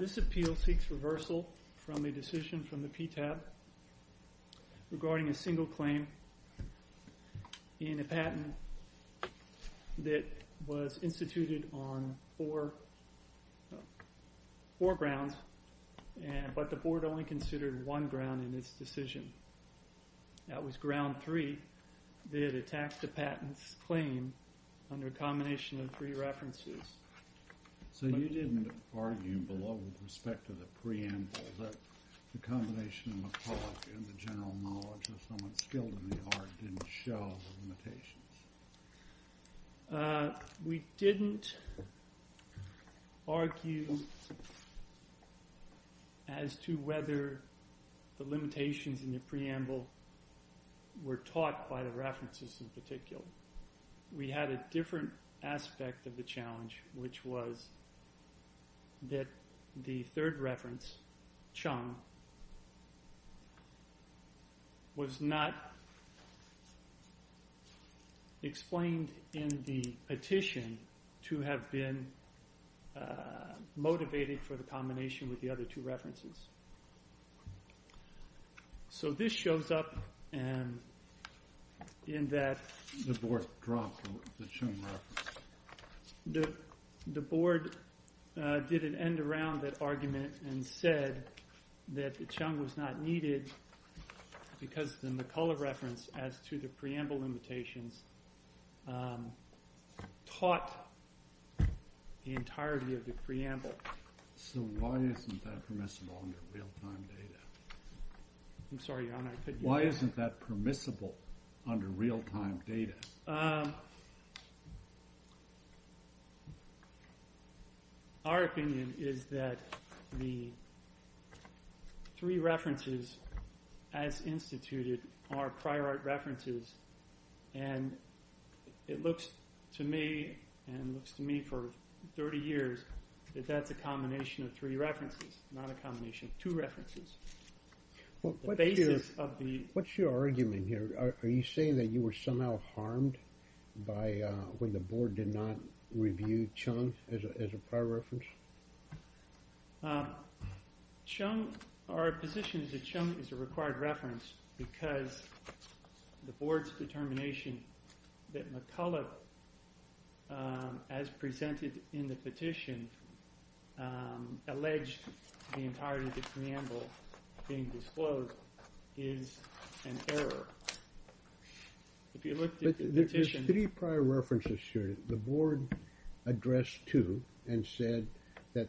This appeal seeks reversal from a decision from the PTAB regarding a single claim in a patent that was instituted on four grounds, but the board only considered one ground in its decision. That was ground three, that it attacks the patent's claim under a combination of three references. So you didn't argue below with respect to the preamble that the combination of the public and the general knowledge of someone skilled in the art didn't show the limitations? We didn't argue as to whether the limitations in the preamble were taught by the references in particular. We had a different aspect of the challenge, which was that the third reference Chung was not explained in the petition to have been motivated for the combination with the other two references. So this shows up in that the board did an end around that argument and said that Chung was not needed because the McCullough reference as to the preamble limitations taught the entirety of the preamble. So why isn't that permissible under real-time data? I'm sorry, Your Honor, I couldn't hear you. Why isn't that permissible under real-time data? Our opinion is that the three references as instituted are prior art references and it is a combination of three references, not a combination of two references. What's your argument here? Are you saying that you were somehow harmed when the board did not review Chung as a prior reference? Our position is that Chung is a required reference because the board's determination that McCullough as presented in the petition alleged the entirety of the preamble being disclosed is an error. If you look at the petition... There's three prior references here. The board addressed two and said that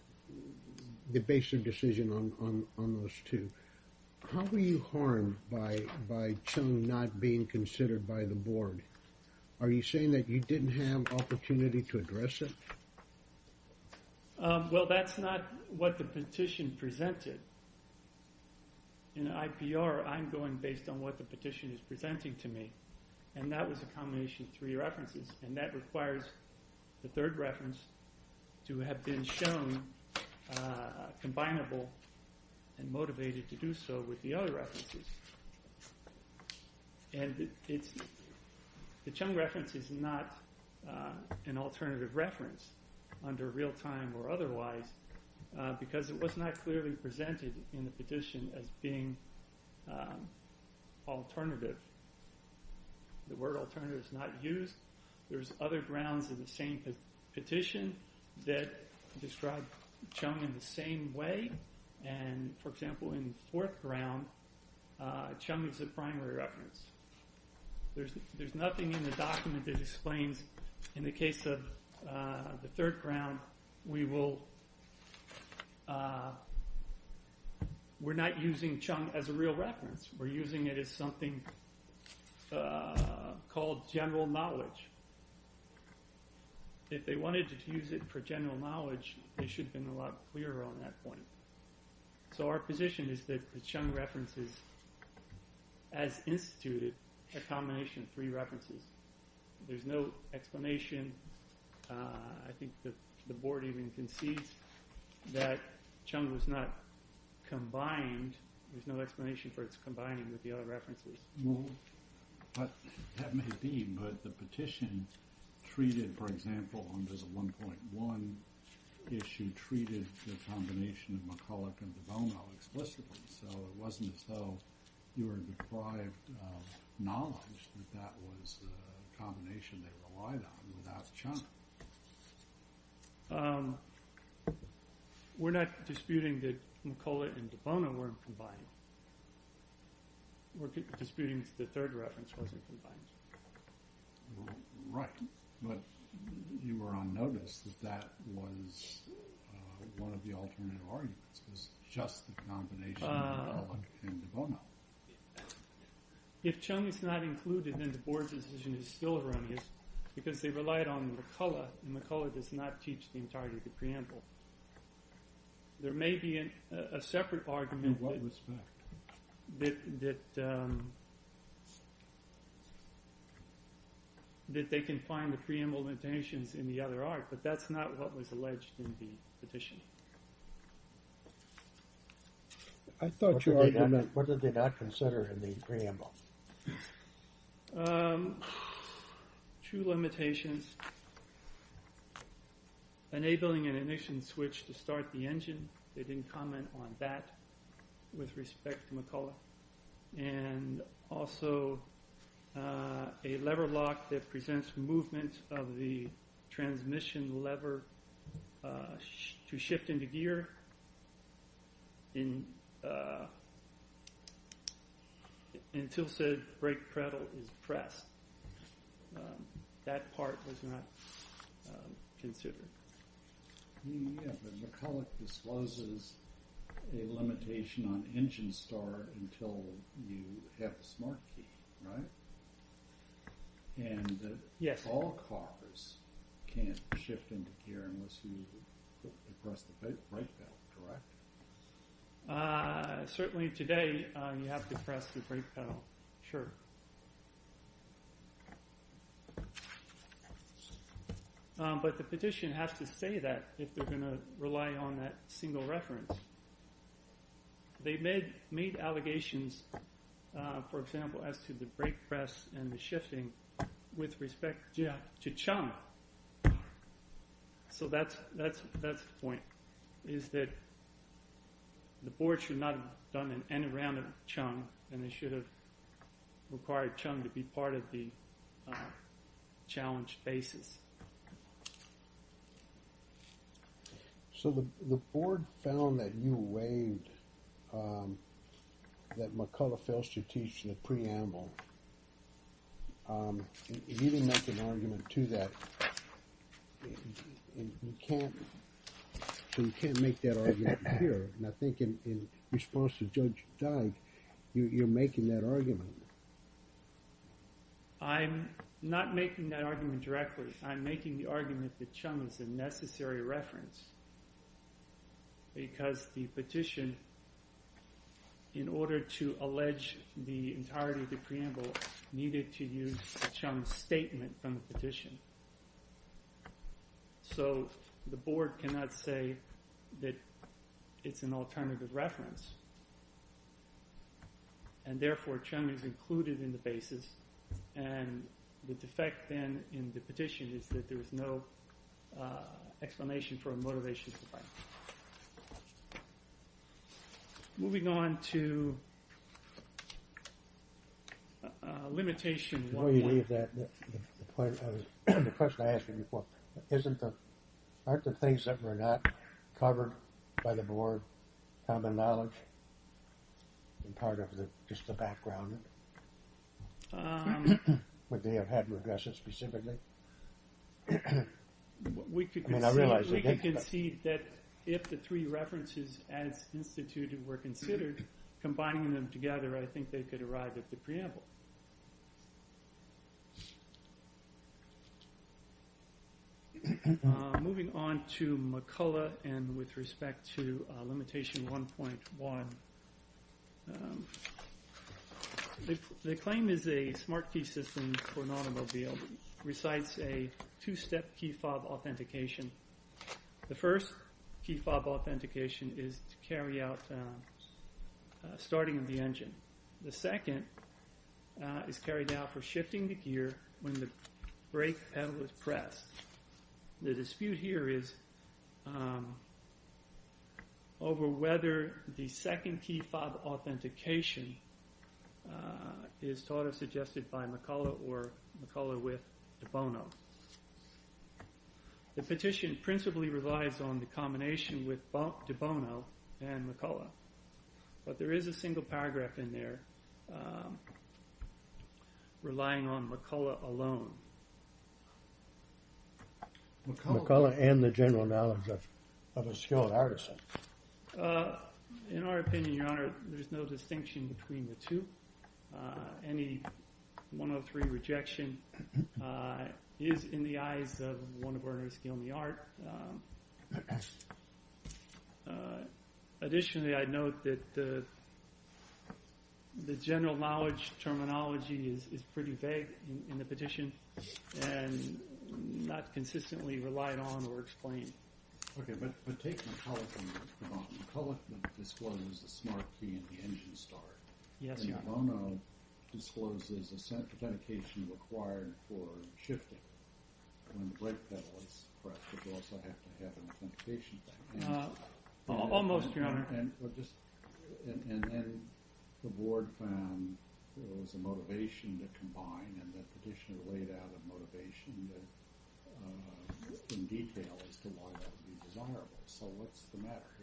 the basic decision on those two. How were you harmed by Chung not being considered by the board? Are you saying that you didn't have opportunity to address it? Well, that's not what the petition presented. In IPR, I'm going based on what the petition is presenting to me. And that was a combination of three references. And that requires the third reference to have been shown combinable and motivated to do so with the other references. And the Chung reference is not an alternative reference under real-time or otherwise because it was not clearly presented in the petition as being alternative. The word alternative is not used. There's other grounds in the same petition that describe Chung in the same way. For example, in the fourth ground, Chung is a primary reference. There's nothing in the document that explains, in the case of the third ground, we're not using Chung as a real reference. We're using it as something called general knowledge. If they wanted to use it for general knowledge, they should have been a lot clearer on that point. So our position is that the Chung reference is, as instituted, a combination of three references. There's no explanation. I think the board even concedes that Chung was not combined. There's no explanation for its combining with the other references. That may be, but the petition treated, for example, under the 1.1 issue, treated the combination of McCulloch and de Bono explicitly. So it wasn't as though you were deprived of knowledge that that was a combination they relied on without Chung. We're not disputing that McCulloch and de Bono weren't combined. We're disputing that the third reference wasn't combined. Right, but you were on notice that that was one of the alternative arguments. It was just the combination of McCulloch and de Bono. If Chung is not included, then the board's decision is still erroneous because they relied on McCulloch, and McCulloch does not teach the entirety of the preamble. There may be a separate argument that they can find the preamble limitations in the other art, but that's not what was alleged in the petition. What did they not consider in the preamble? Two limitations, enabling an ignition switch to start the engine. They didn't comment on that with respect to McCulloch. And also a lever lock that presents movement of the transmission lever to shift into gear until said brake pedal is pressed. That part was not considered. McCulloch discloses a limitation on engine start until you have a smart key, right? And all cars can't shift into gear unless you press the brake pedal, correct? Certainly today you have to press the brake pedal, sure. But the petition has to say that if they're going to rely on that single reference. They made allegations, for example, as to the brake press and the shifting with respect to Chung. So that's the point, is that the board should not have done an N around of Chung, and they should have required Chung to be part of the challenge basis. So the board found that you waived that McCulloch fails to teach in the preamble. You didn't make an argument to that. You can't make that argument here, and I think in response to Judge Dyke, you're making that argument. I'm not making that argument directly. I'm making the argument that Chung is a necessary reference. Because the petition, in order to allege the entirety of the preamble, needed to use Chung's statement from the petition. So the board cannot say that it's an alternative reference. And therefore, Chung is included in the basis, and the defect then in the petition is that there is no explanation for a motivation to fight. Moving on to limitation 1. Before you leave that, the question I asked you before, aren't the things that were not covered by the board common knowledge and part of just the background? Would they have had regressions specifically? We could concede that if the three references as instituted were considered, combining them together, I think they could arrive at the preamble. Moving on to McCullough and with respect to limitation 1.1. The claim is a smart key system for an automobile recites a two-step key fob authentication. The first key fob authentication is to carry out starting of the engine. The second is carried out for shifting the gear when the brake pedal is pressed. The dispute here is over whether the second key fob authentication is thought of, suggested by McCullough or McCullough with de Bono. The petition principally relies on the combination with de Bono and McCullough. But there is a single paragraph in there relying on McCullough alone. McCullough and the general knowledge of a skilled artisan. In our opinion, your honor, there is no distinction between the two. Any 103 rejection is in the eyes of one of our skilled in the art. Additionally, I note that the general knowledge terminology is pretty vague in the petition and not consistently relied on or explained. Okay, but take McCullough and de Bono. McCullough discloses the smart key in the engine start. Yes, your honor. De Bono discloses authentication required for shifting when the brake pedal is pressed. But you also have to have an authentication. Almost, your honor. And the board found there was a motivation to combine and the petitioner laid out a motivation in detail as to why that would be desirable. So what's the matter here?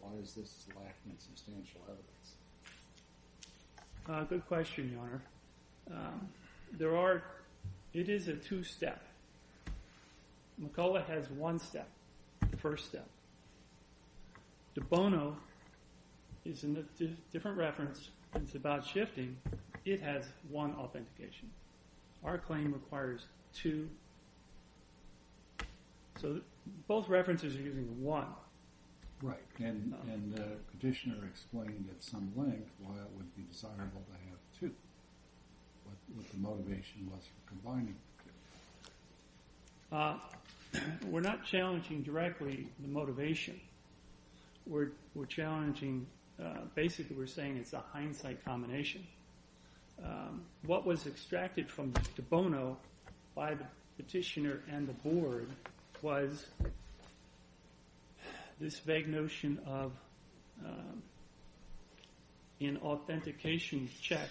Why is this lacking substantial evidence? Good question, your honor. There are, it is a two-step. McCullough has one step, the first step. De Bono is in a different reference. It's about shifting. It has one authentication. Our claim requires two. So both references are using one. Right, and the petitioner explained at some length why it would be desirable to have two. What the motivation was for combining. We're not challenging directly the motivation. We're challenging, basically we're saying it's a hindsight combination. What was extracted from De Bono by the petitioner and the board was this vague notion of an authentication check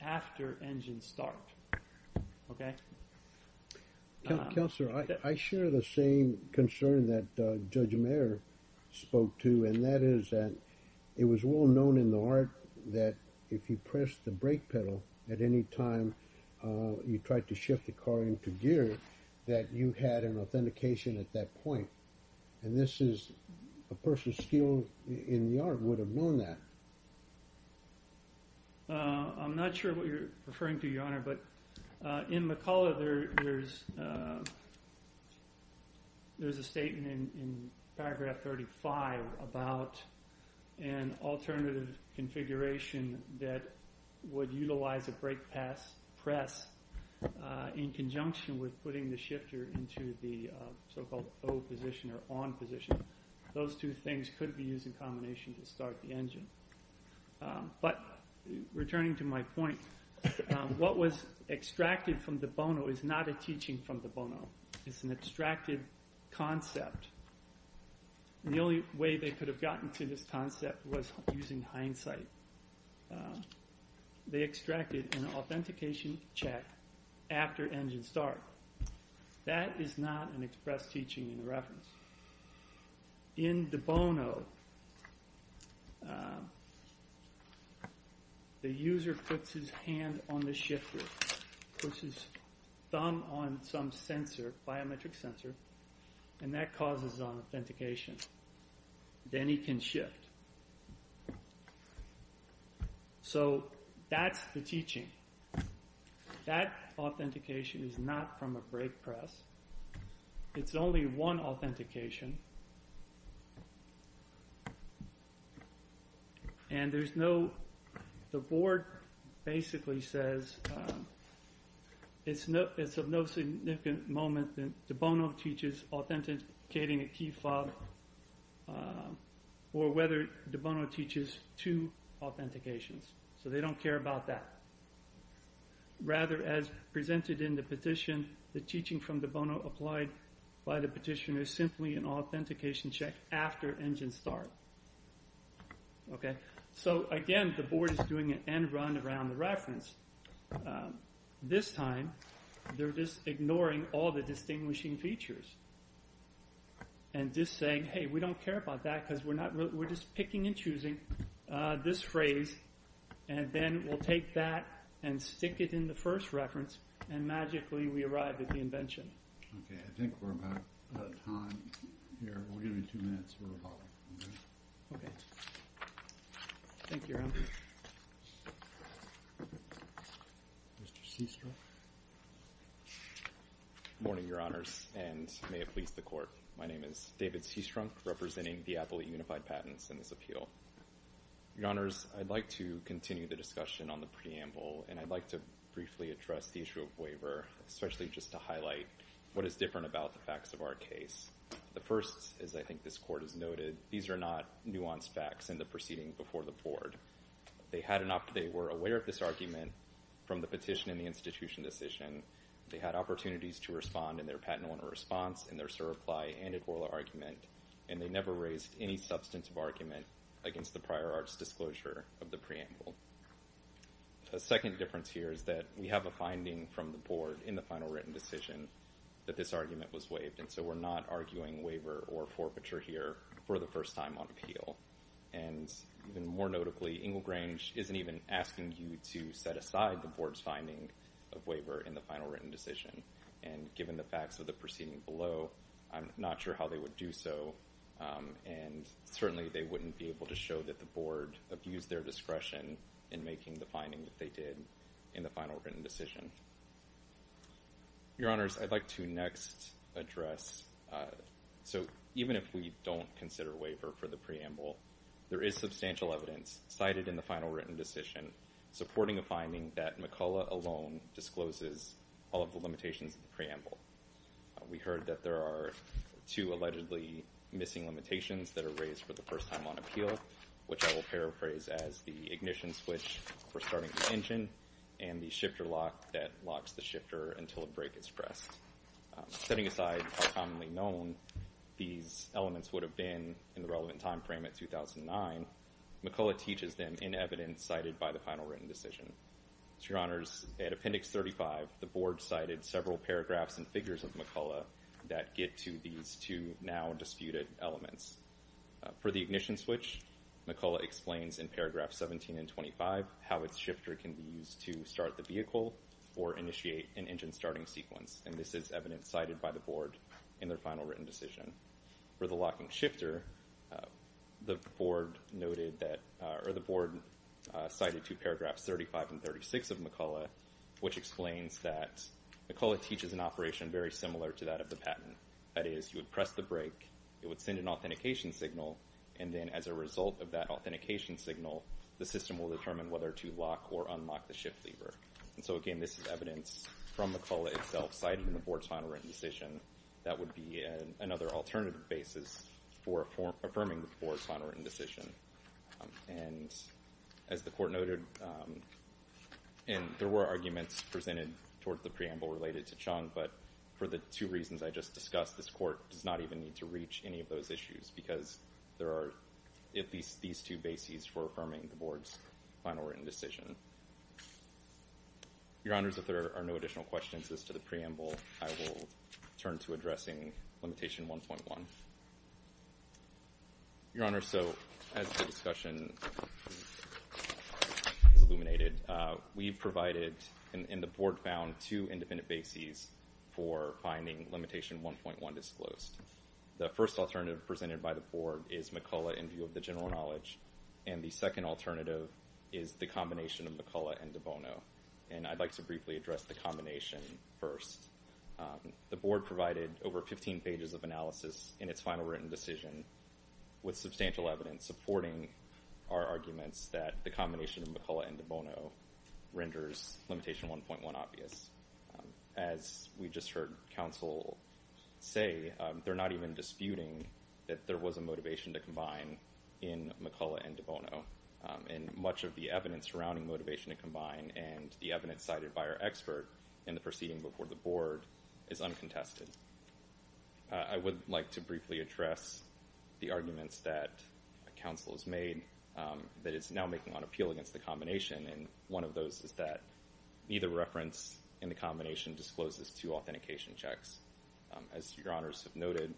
after engine start. Okay? Counselor, I share the same concern that Judge Mayer spoke to, and that is that it was well known in the art that if you pressed the brake pedal at any time you tried to shift the car into gear, that you had an authentication at that point. And this is, a person still in the art would have known that. I'm not sure what you're referring to, your honor. In McCullough, there's a statement in paragraph 35 about an alternative configuration that would utilize a brake press in conjunction with putting the shifter into the so-called O position or on position. Those two things could be used in combination to start the engine. But returning to my point, what was extracted from De Bono is not a teaching from De Bono. It's an extracted concept. The only way they could have gotten to this concept was using hindsight. They extracted an authentication check after engine start. That is not an express teaching in reference. In De Bono, the user puts his hand on the shifter, puts his thumb on some sensor, biometric sensor, and that causes an authentication. Then he can shift. So that's the teaching. That authentication is not from a brake press. It's only one authentication. And there's no, the board basically says it's of no significant moment that De Bono teaches authenticating a key fob or whether De Bono teaches two authentications. So they don't care about that. Rather, as presented in the petition, the teaching from De Bono applied by the petitioner is simply an authentication check after engine start. So again, the board is doing an end run around the reference. This time, they're just ignoring all the distinguishing features and just saying, hey, we don't care about that because we're just picking and choosing this phrase. And then we'll take that and stick it in the first reference. And magically, we arrived at the invention. OK. I think we're about time here. We're going to be two minutes. We're about ready. OK. Thank you, Your Honor. Mr. Seastrunk. Good morning, Your Honors, and may it please the Court. My name is David Seastrunk, representing the Appellate Unified Patents in this appeal. Your Honors, I'd like to continue the discussion on the preamble. And I'd like to briefly address the issue of waiver, especially just to highlight what is different about the facts of our case. The first is, I think this Court has noted, these are not nuanced facts in the proceeding before the board. They were aware of this argument from the petition and the institution decision. They had opportunities to respond in their patent owner response, in their certify, and in their oral argument. And they never raised any substantive argument against the prior arts disclosure of the preamble. The second difference here is that we have a finding from the board in the final written decision that this argument was waived. And so we're not arguing waiver or forfeiture here for the first time on appeal. And even more notably, Engelgrange isn't even asking you to set aside the board's finding of waiver in the final written decision. And given the facts of the proceeding below, I'm not sure how they would do so. And certainly they wouldn't be able to show that the board abused their discretion in making the finding that they did in the final written decision. Your Honors, I'd like to next address. So even if we don't consider waiver for the preamble, there is substantial evidence cited in the final written decision, supporting a finding that McCullough alone discloses all of the limitations of the preamble. We heard that there are two allegedly missing limitations that are raised for the first time on appeal, which I will paraphrase as the ignition switch for starting the engine and the shifter lock that locks the shifter until a brake is pressed. Setting aside commonly known, these elements would have been in the relevant time frame at 2009, McCullough teaches them in evidence cited by the final written decision. Your Honors, at appendix 35, the board cited several paragraphs and figures of McCullough that get to these two now disputed elements. For the ignition switch, McCullough explains in paragraph 17 and 25, how its shifter can be used to start the vehicle or initiate an engine starting sequence. And this is evidence cited by the board in their final written decision. For the locking shifter, the board cited two paragraphs, 35 and 36 of McCullough, which explains that McCullough teaches an operation very similar to that of the patent. That is, you would press the brake, it would send an authentication signal, and then as a result of that authentication signal, the system will determine whether to lock or unlock the shift lever. And so again, this is evidence from McCullough itself cited in the board's final written decision that would be another alternative basis for affirming the board's final written decision. And as the court noted, and there were arguments presented towards the preamble related to Chung, but for the two reasons I just discussed, this court does not even need to reach any of those issues because there are at least these two bases for affirming the board's final written decision. Your Honors, if there are no additional questions as to the preamble, I will turn to addressing limitation 1.1. Your Honors, so as the discussion is illuminated, we provided and the board found two independent bases for finding limitation 1.1 disclosed. The first alternative presented by the board is McCullough in view of the general knowledge, and the second alternative is the combination of McCullough and De Bono, and I'd like to briefly address the combination first. The board provided over 15 pages of analysis in its final written decision with substantial evidence supporting our arguments that the combination of McCullough and De Bono renders limitation 1.1 obvious. As we just heard counsel say, they're not even disputing that there was a motivation to combine in McCullough and De Bono, and much of the evidence surrounding motivation to combine and the evidence cited by our expert in the proceeding before the board is uncontested. I would like to briefly address the arguments that counsel has made that it's now making on appeal against the combination, and one of those is that neither reference in the combination discloses two authentication checks. As Your Honors have noted,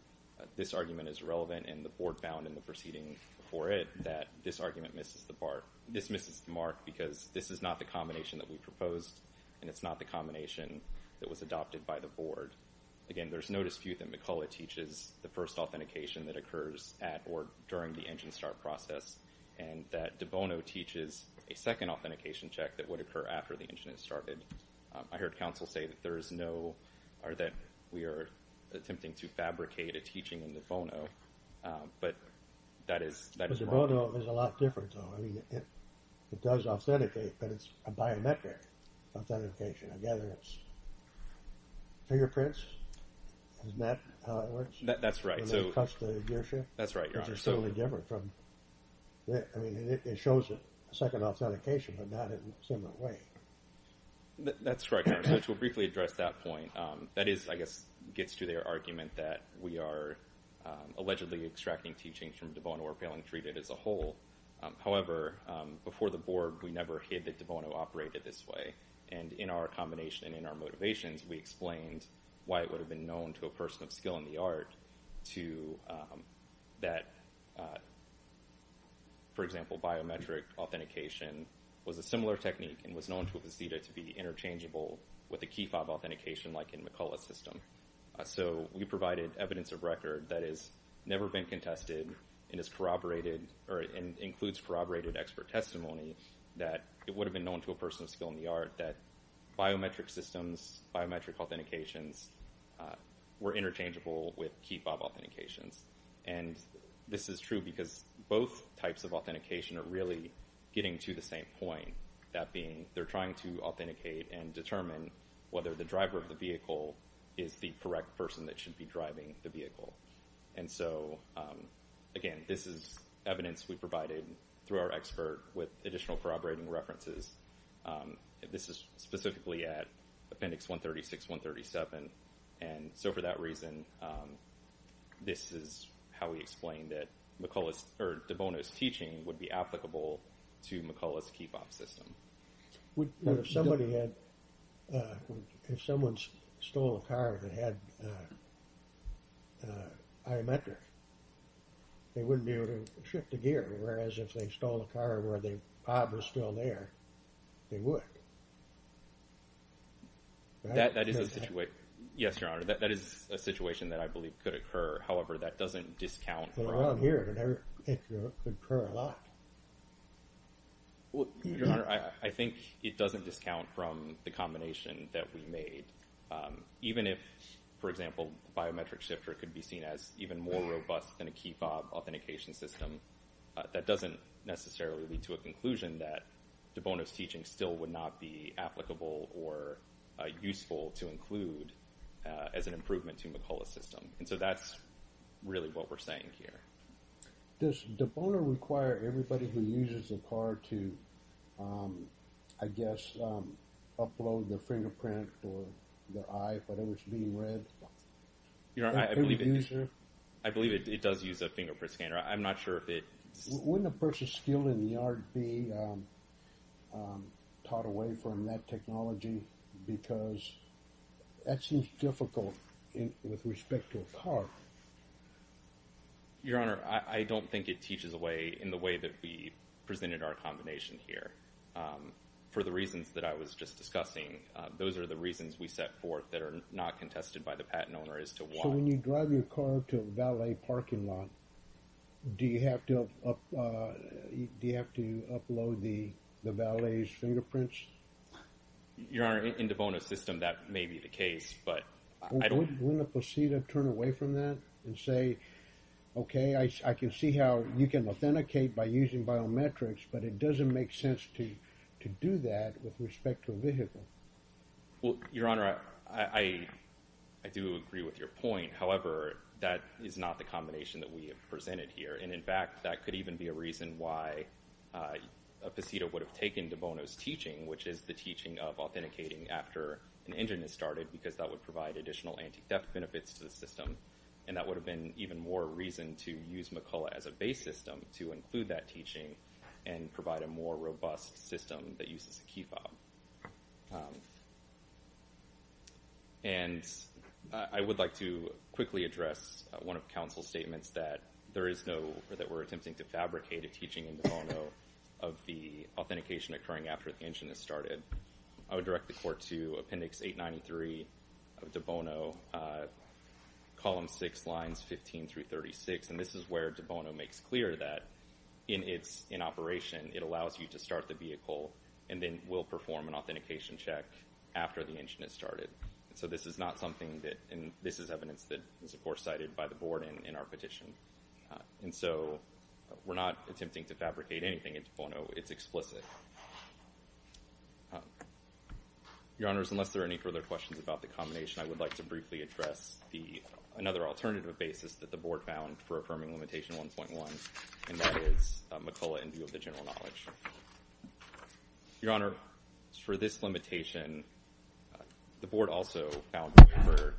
this argument is relevant, and the board found in the proceeding before it that this argument misses the mark because this is not the combination that we proposed, and it's not the combination that was adopted by the board. Again, there's no dispute that McCullough teaches the first authentication that occurs at or during the engine start process, and that De Bono teaches a second authentication check that would occur after the engine has started. I heard counsel say that we are attempting to fabricate a teaching in De Bono, but that is wrong. There's a lot different, though. I mean, it does authenticate, but it's a biometric authentication. I gather it's fingerprints. Isn't that how it works? That's right. When they touch the gearshift? That's right, Your Honor. Which is totally different from this. I mean, it shows a second authentication, but not in a similar way. That's right, Your Honor. So to briefly address that point, that is, I guess, gets to their argument that we are allegedly extracting teachings from De Bono or failing to treat it as a whole. However, before the board, we never hid that De Bono operated this way, and in our combination and in our motivations, we explained why it would have been known to a person of skill in the art to that, for example, biometric authentication was a similar technique and was known to a faceta to be interchangeable with a key fob authentication like in McCullough's system. So we provided evidence of record that has never been contested and is corroborated or includes corroborated expert testimony that it would have been known to a person of skill in the art that biometric systems, biometric authentications were interchangeable with key fob authentications. And this is true because both types of authentication are really getting to the same point, that being they're trying to authenticate and determine whether the driver of the vehicle is the correct person that should be driving the vehicle. And so, again, this is evidence we provided through our expert with additional corroborating references. This is specifically at Appendix 136, 137. And so for that reason, this is how we explained that De Bono's teaching would be applicable to McCullough's key fob system. If somebody had, if someone stole a car that had biometric, they wouldn't be able to shift the gear, whereas if they stole a car where the fob was still there, they would. That is a situation, yes, Your Honor, that is a situation that I believe could occur. However, that doesn't discount. But around here, it could occur a lot. Well, Your Honor, I think it doesn't discount from the combination that we made. Even if, for example, biometric shifter could be seen as even more robust than a key fob authentication system, that doesn't necessarily lead to a conclusion that De Bono's teaching still would not be applicable or useful to include as an improvement to McCullough's system. And so that's really what we're saying here. Does De Bono require everybody who uses a car to, I guess, upload their fingerprint or their eye, if it was being read? Your Honor, I believe it does use a fingerprint scanner. I'm not sure if it – Wouldn't a person skilled in the art be taught away from that technology? Because that seems difficult with respect to a car. Your Honor, I don't think it teaches away in the way that we presented our combination here. For the reasons that I was just discussing, those are the reasons we set forth that are not contested by the patent owner as to why. So when you drive your car to a valet parking lot, do you have to upload the valet's fingerprints? Your Honor, in De Bono's system, that may be the case, but I don't – Wouldn't a posita turn away from that and say, okay, I can see how you can authenticate by using biometrics, but it doesn't make sense to do that with respect to a vehicle? Well, Your Honor, I do agree with your point. However, that is not the combination that we have presented here. And in fact, that could even be a reason why a posita would have taken De Bono's teaching, which is the teaching of authenticating after an engine is started, because that would provide additional anti-theft benefits to the system. And that would have been even more reason to use McCulloch as a base system to include that teaching and provide a more robust system that uses a key fob. And I would like to quickly address one of counsel's statements that there is no – or that we're attempting to fabricate a teaching in De Bono of the authentication occurring after the engine is started. I would direct the Court to Appendix 893 of De Bono, Column 6, Lines 15 through 36. And this is where De Bono makes clear that in operation, it allows you to start the vehicle and then will perform an authentication check after the engine is started. So this is not something that – and this is evidence that is, of course, cited by the Board in our petition. And so we're not attempting to fabricate anything in De Bono. It's explicit. Your Honors, unless there are any further questions about the combination, I would like to briefly address another alternative basis that the Board found for affirming Limitation 1.1, and that is McCulloch in view of the general knowledge. Your Honor, for this limitation, the Board also found we prefer,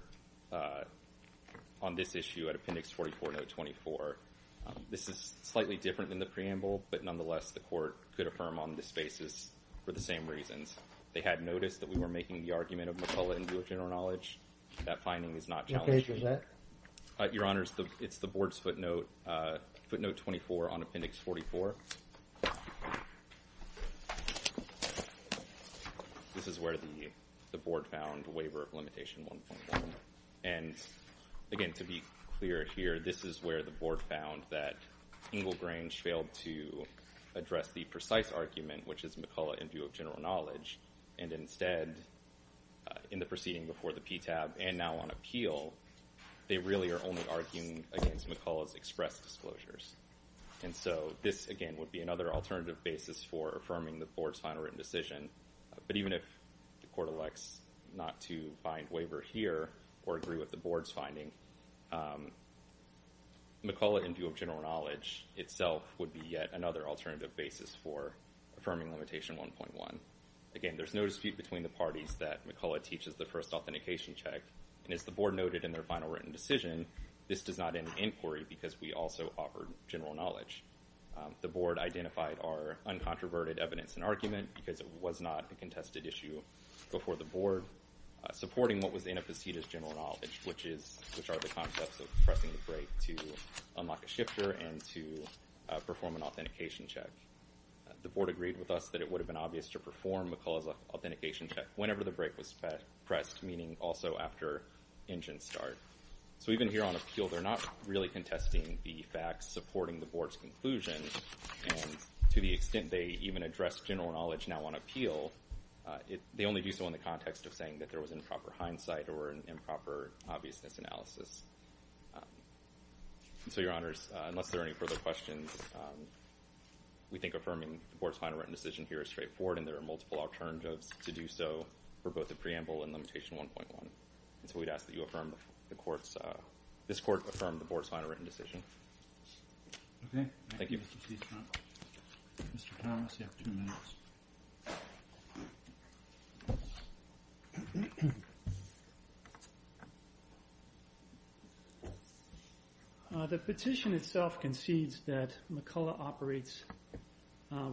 on this issue at Appendix 44, Note 24. This is slightly different than the preamble, but nonetheless the Court could affirm on this basis for the same reasons. They had noticed that we were making the argument of McCulloch in view of general knowledge. That finding is not challenged. What page was that? Your Honors, it's the Board's footnote, footnote 24 on Appendix 44. This is where the Board found waiver of Limitation 1.1. And, again, to be clear here, this is where the Board found that Engelgrange failed to address the precise argument, which is McCulloch in view of general knowledge, and instead, in the proceeding before the PTAB and now on appeal, they really are only arguing against McCulloch's express disclosures. And so this, again, would be another alternative basis for affirming the Board's final written decision. But even if the Court elects not to find waiver here or agree with the Board's finding, McCulloch in view of general knowledge itself would be yet another alternative basis for affirming Limitation 1.1. Again, there's no dispute between the parties that McCulloch teaches the first authentication check. And as the Board noted in their final written decision, this does not end in inquiry because we also offer general knowledge. The Board identified our uncontroverted evidence and argument because it was not a contested issue before the Board, supporting what was in a facetious general knowledge, which are the concepts of pressing the brake to unlock a shifter and to perform an authentication check. The Board agreed with us that it would have been obvious to perform McCulloch's authentication check whenever the brake was pressed, meaning also after engine start. So even here on appeal, they're not really contesting the facts supporting the Board's conclusion, and to the extent they even address general knowledge now on appeal, they only do so in the context of saying that there was improper hindsight or an improper obviousness analysis. So, Your Honors, unless there are any further questions, we think affirming the Board's final written decision here is straightforward, and there are multiple alternatives to do so for both the preamble and Limitation 1.1. So we'd ask that this Court affirm the Board's final written decision. Thank you. Mr. Thomas, you have two minutes. The petition itself concedes that McCulloch operates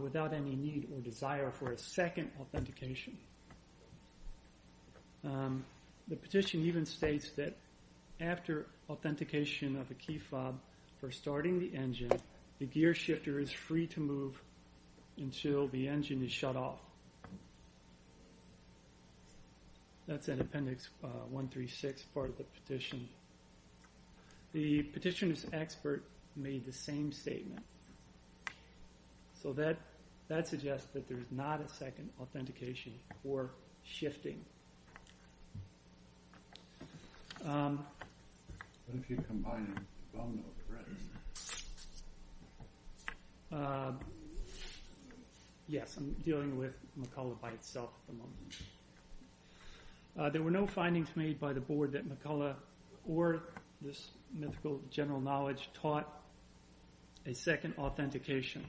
without any need or desire for a second authentication. The petition even states that after authentication of a key fob for starting the engine, the gear shifter is free to move until the engine is shut off. That's in Appendix 136 part of the petition. The petition's expert made the same statement. So that suggests that there's not a second authentication or shifting. Yes, I'm dealing with McCulloch by itself at the moment. There were no findings made by the Board that McCulloch or this mythical general knowledge taught a second authentication.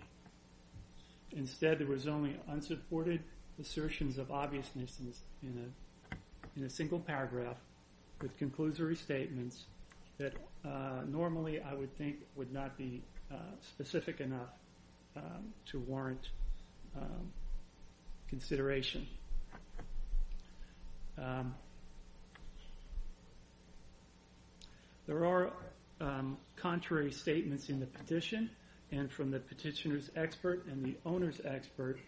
Instead, there was only unsupported assertions of obviousness in a single paragraph with conclusory statements that normally I would think would not be specific enough to warrant consideration. There are contrary statements in the petition and from the petitioner's expert and the owner's expert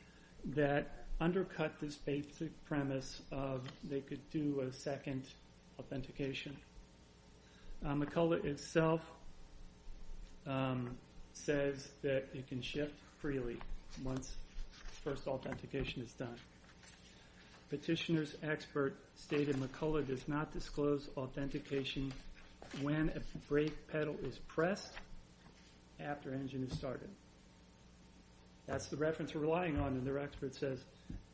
that undercut this basic premise of they could do a second authentication. McCulloch itself says that it can shift freely once first authentication is done. Petitioner's expert stated McCulloch does not disclose authentication when a brake pedal is pressed after engine is started. That's the reference we're relying on and their expert says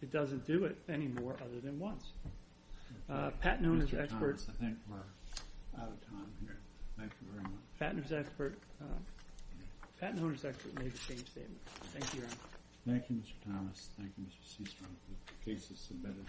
it doesn't do it anymore other than once. Pat and owner's expert made the same statement. Thank you, Your Honor. Thank you, Mr. Thomas. Thank you, Mr. Seastrong. The case is submitted.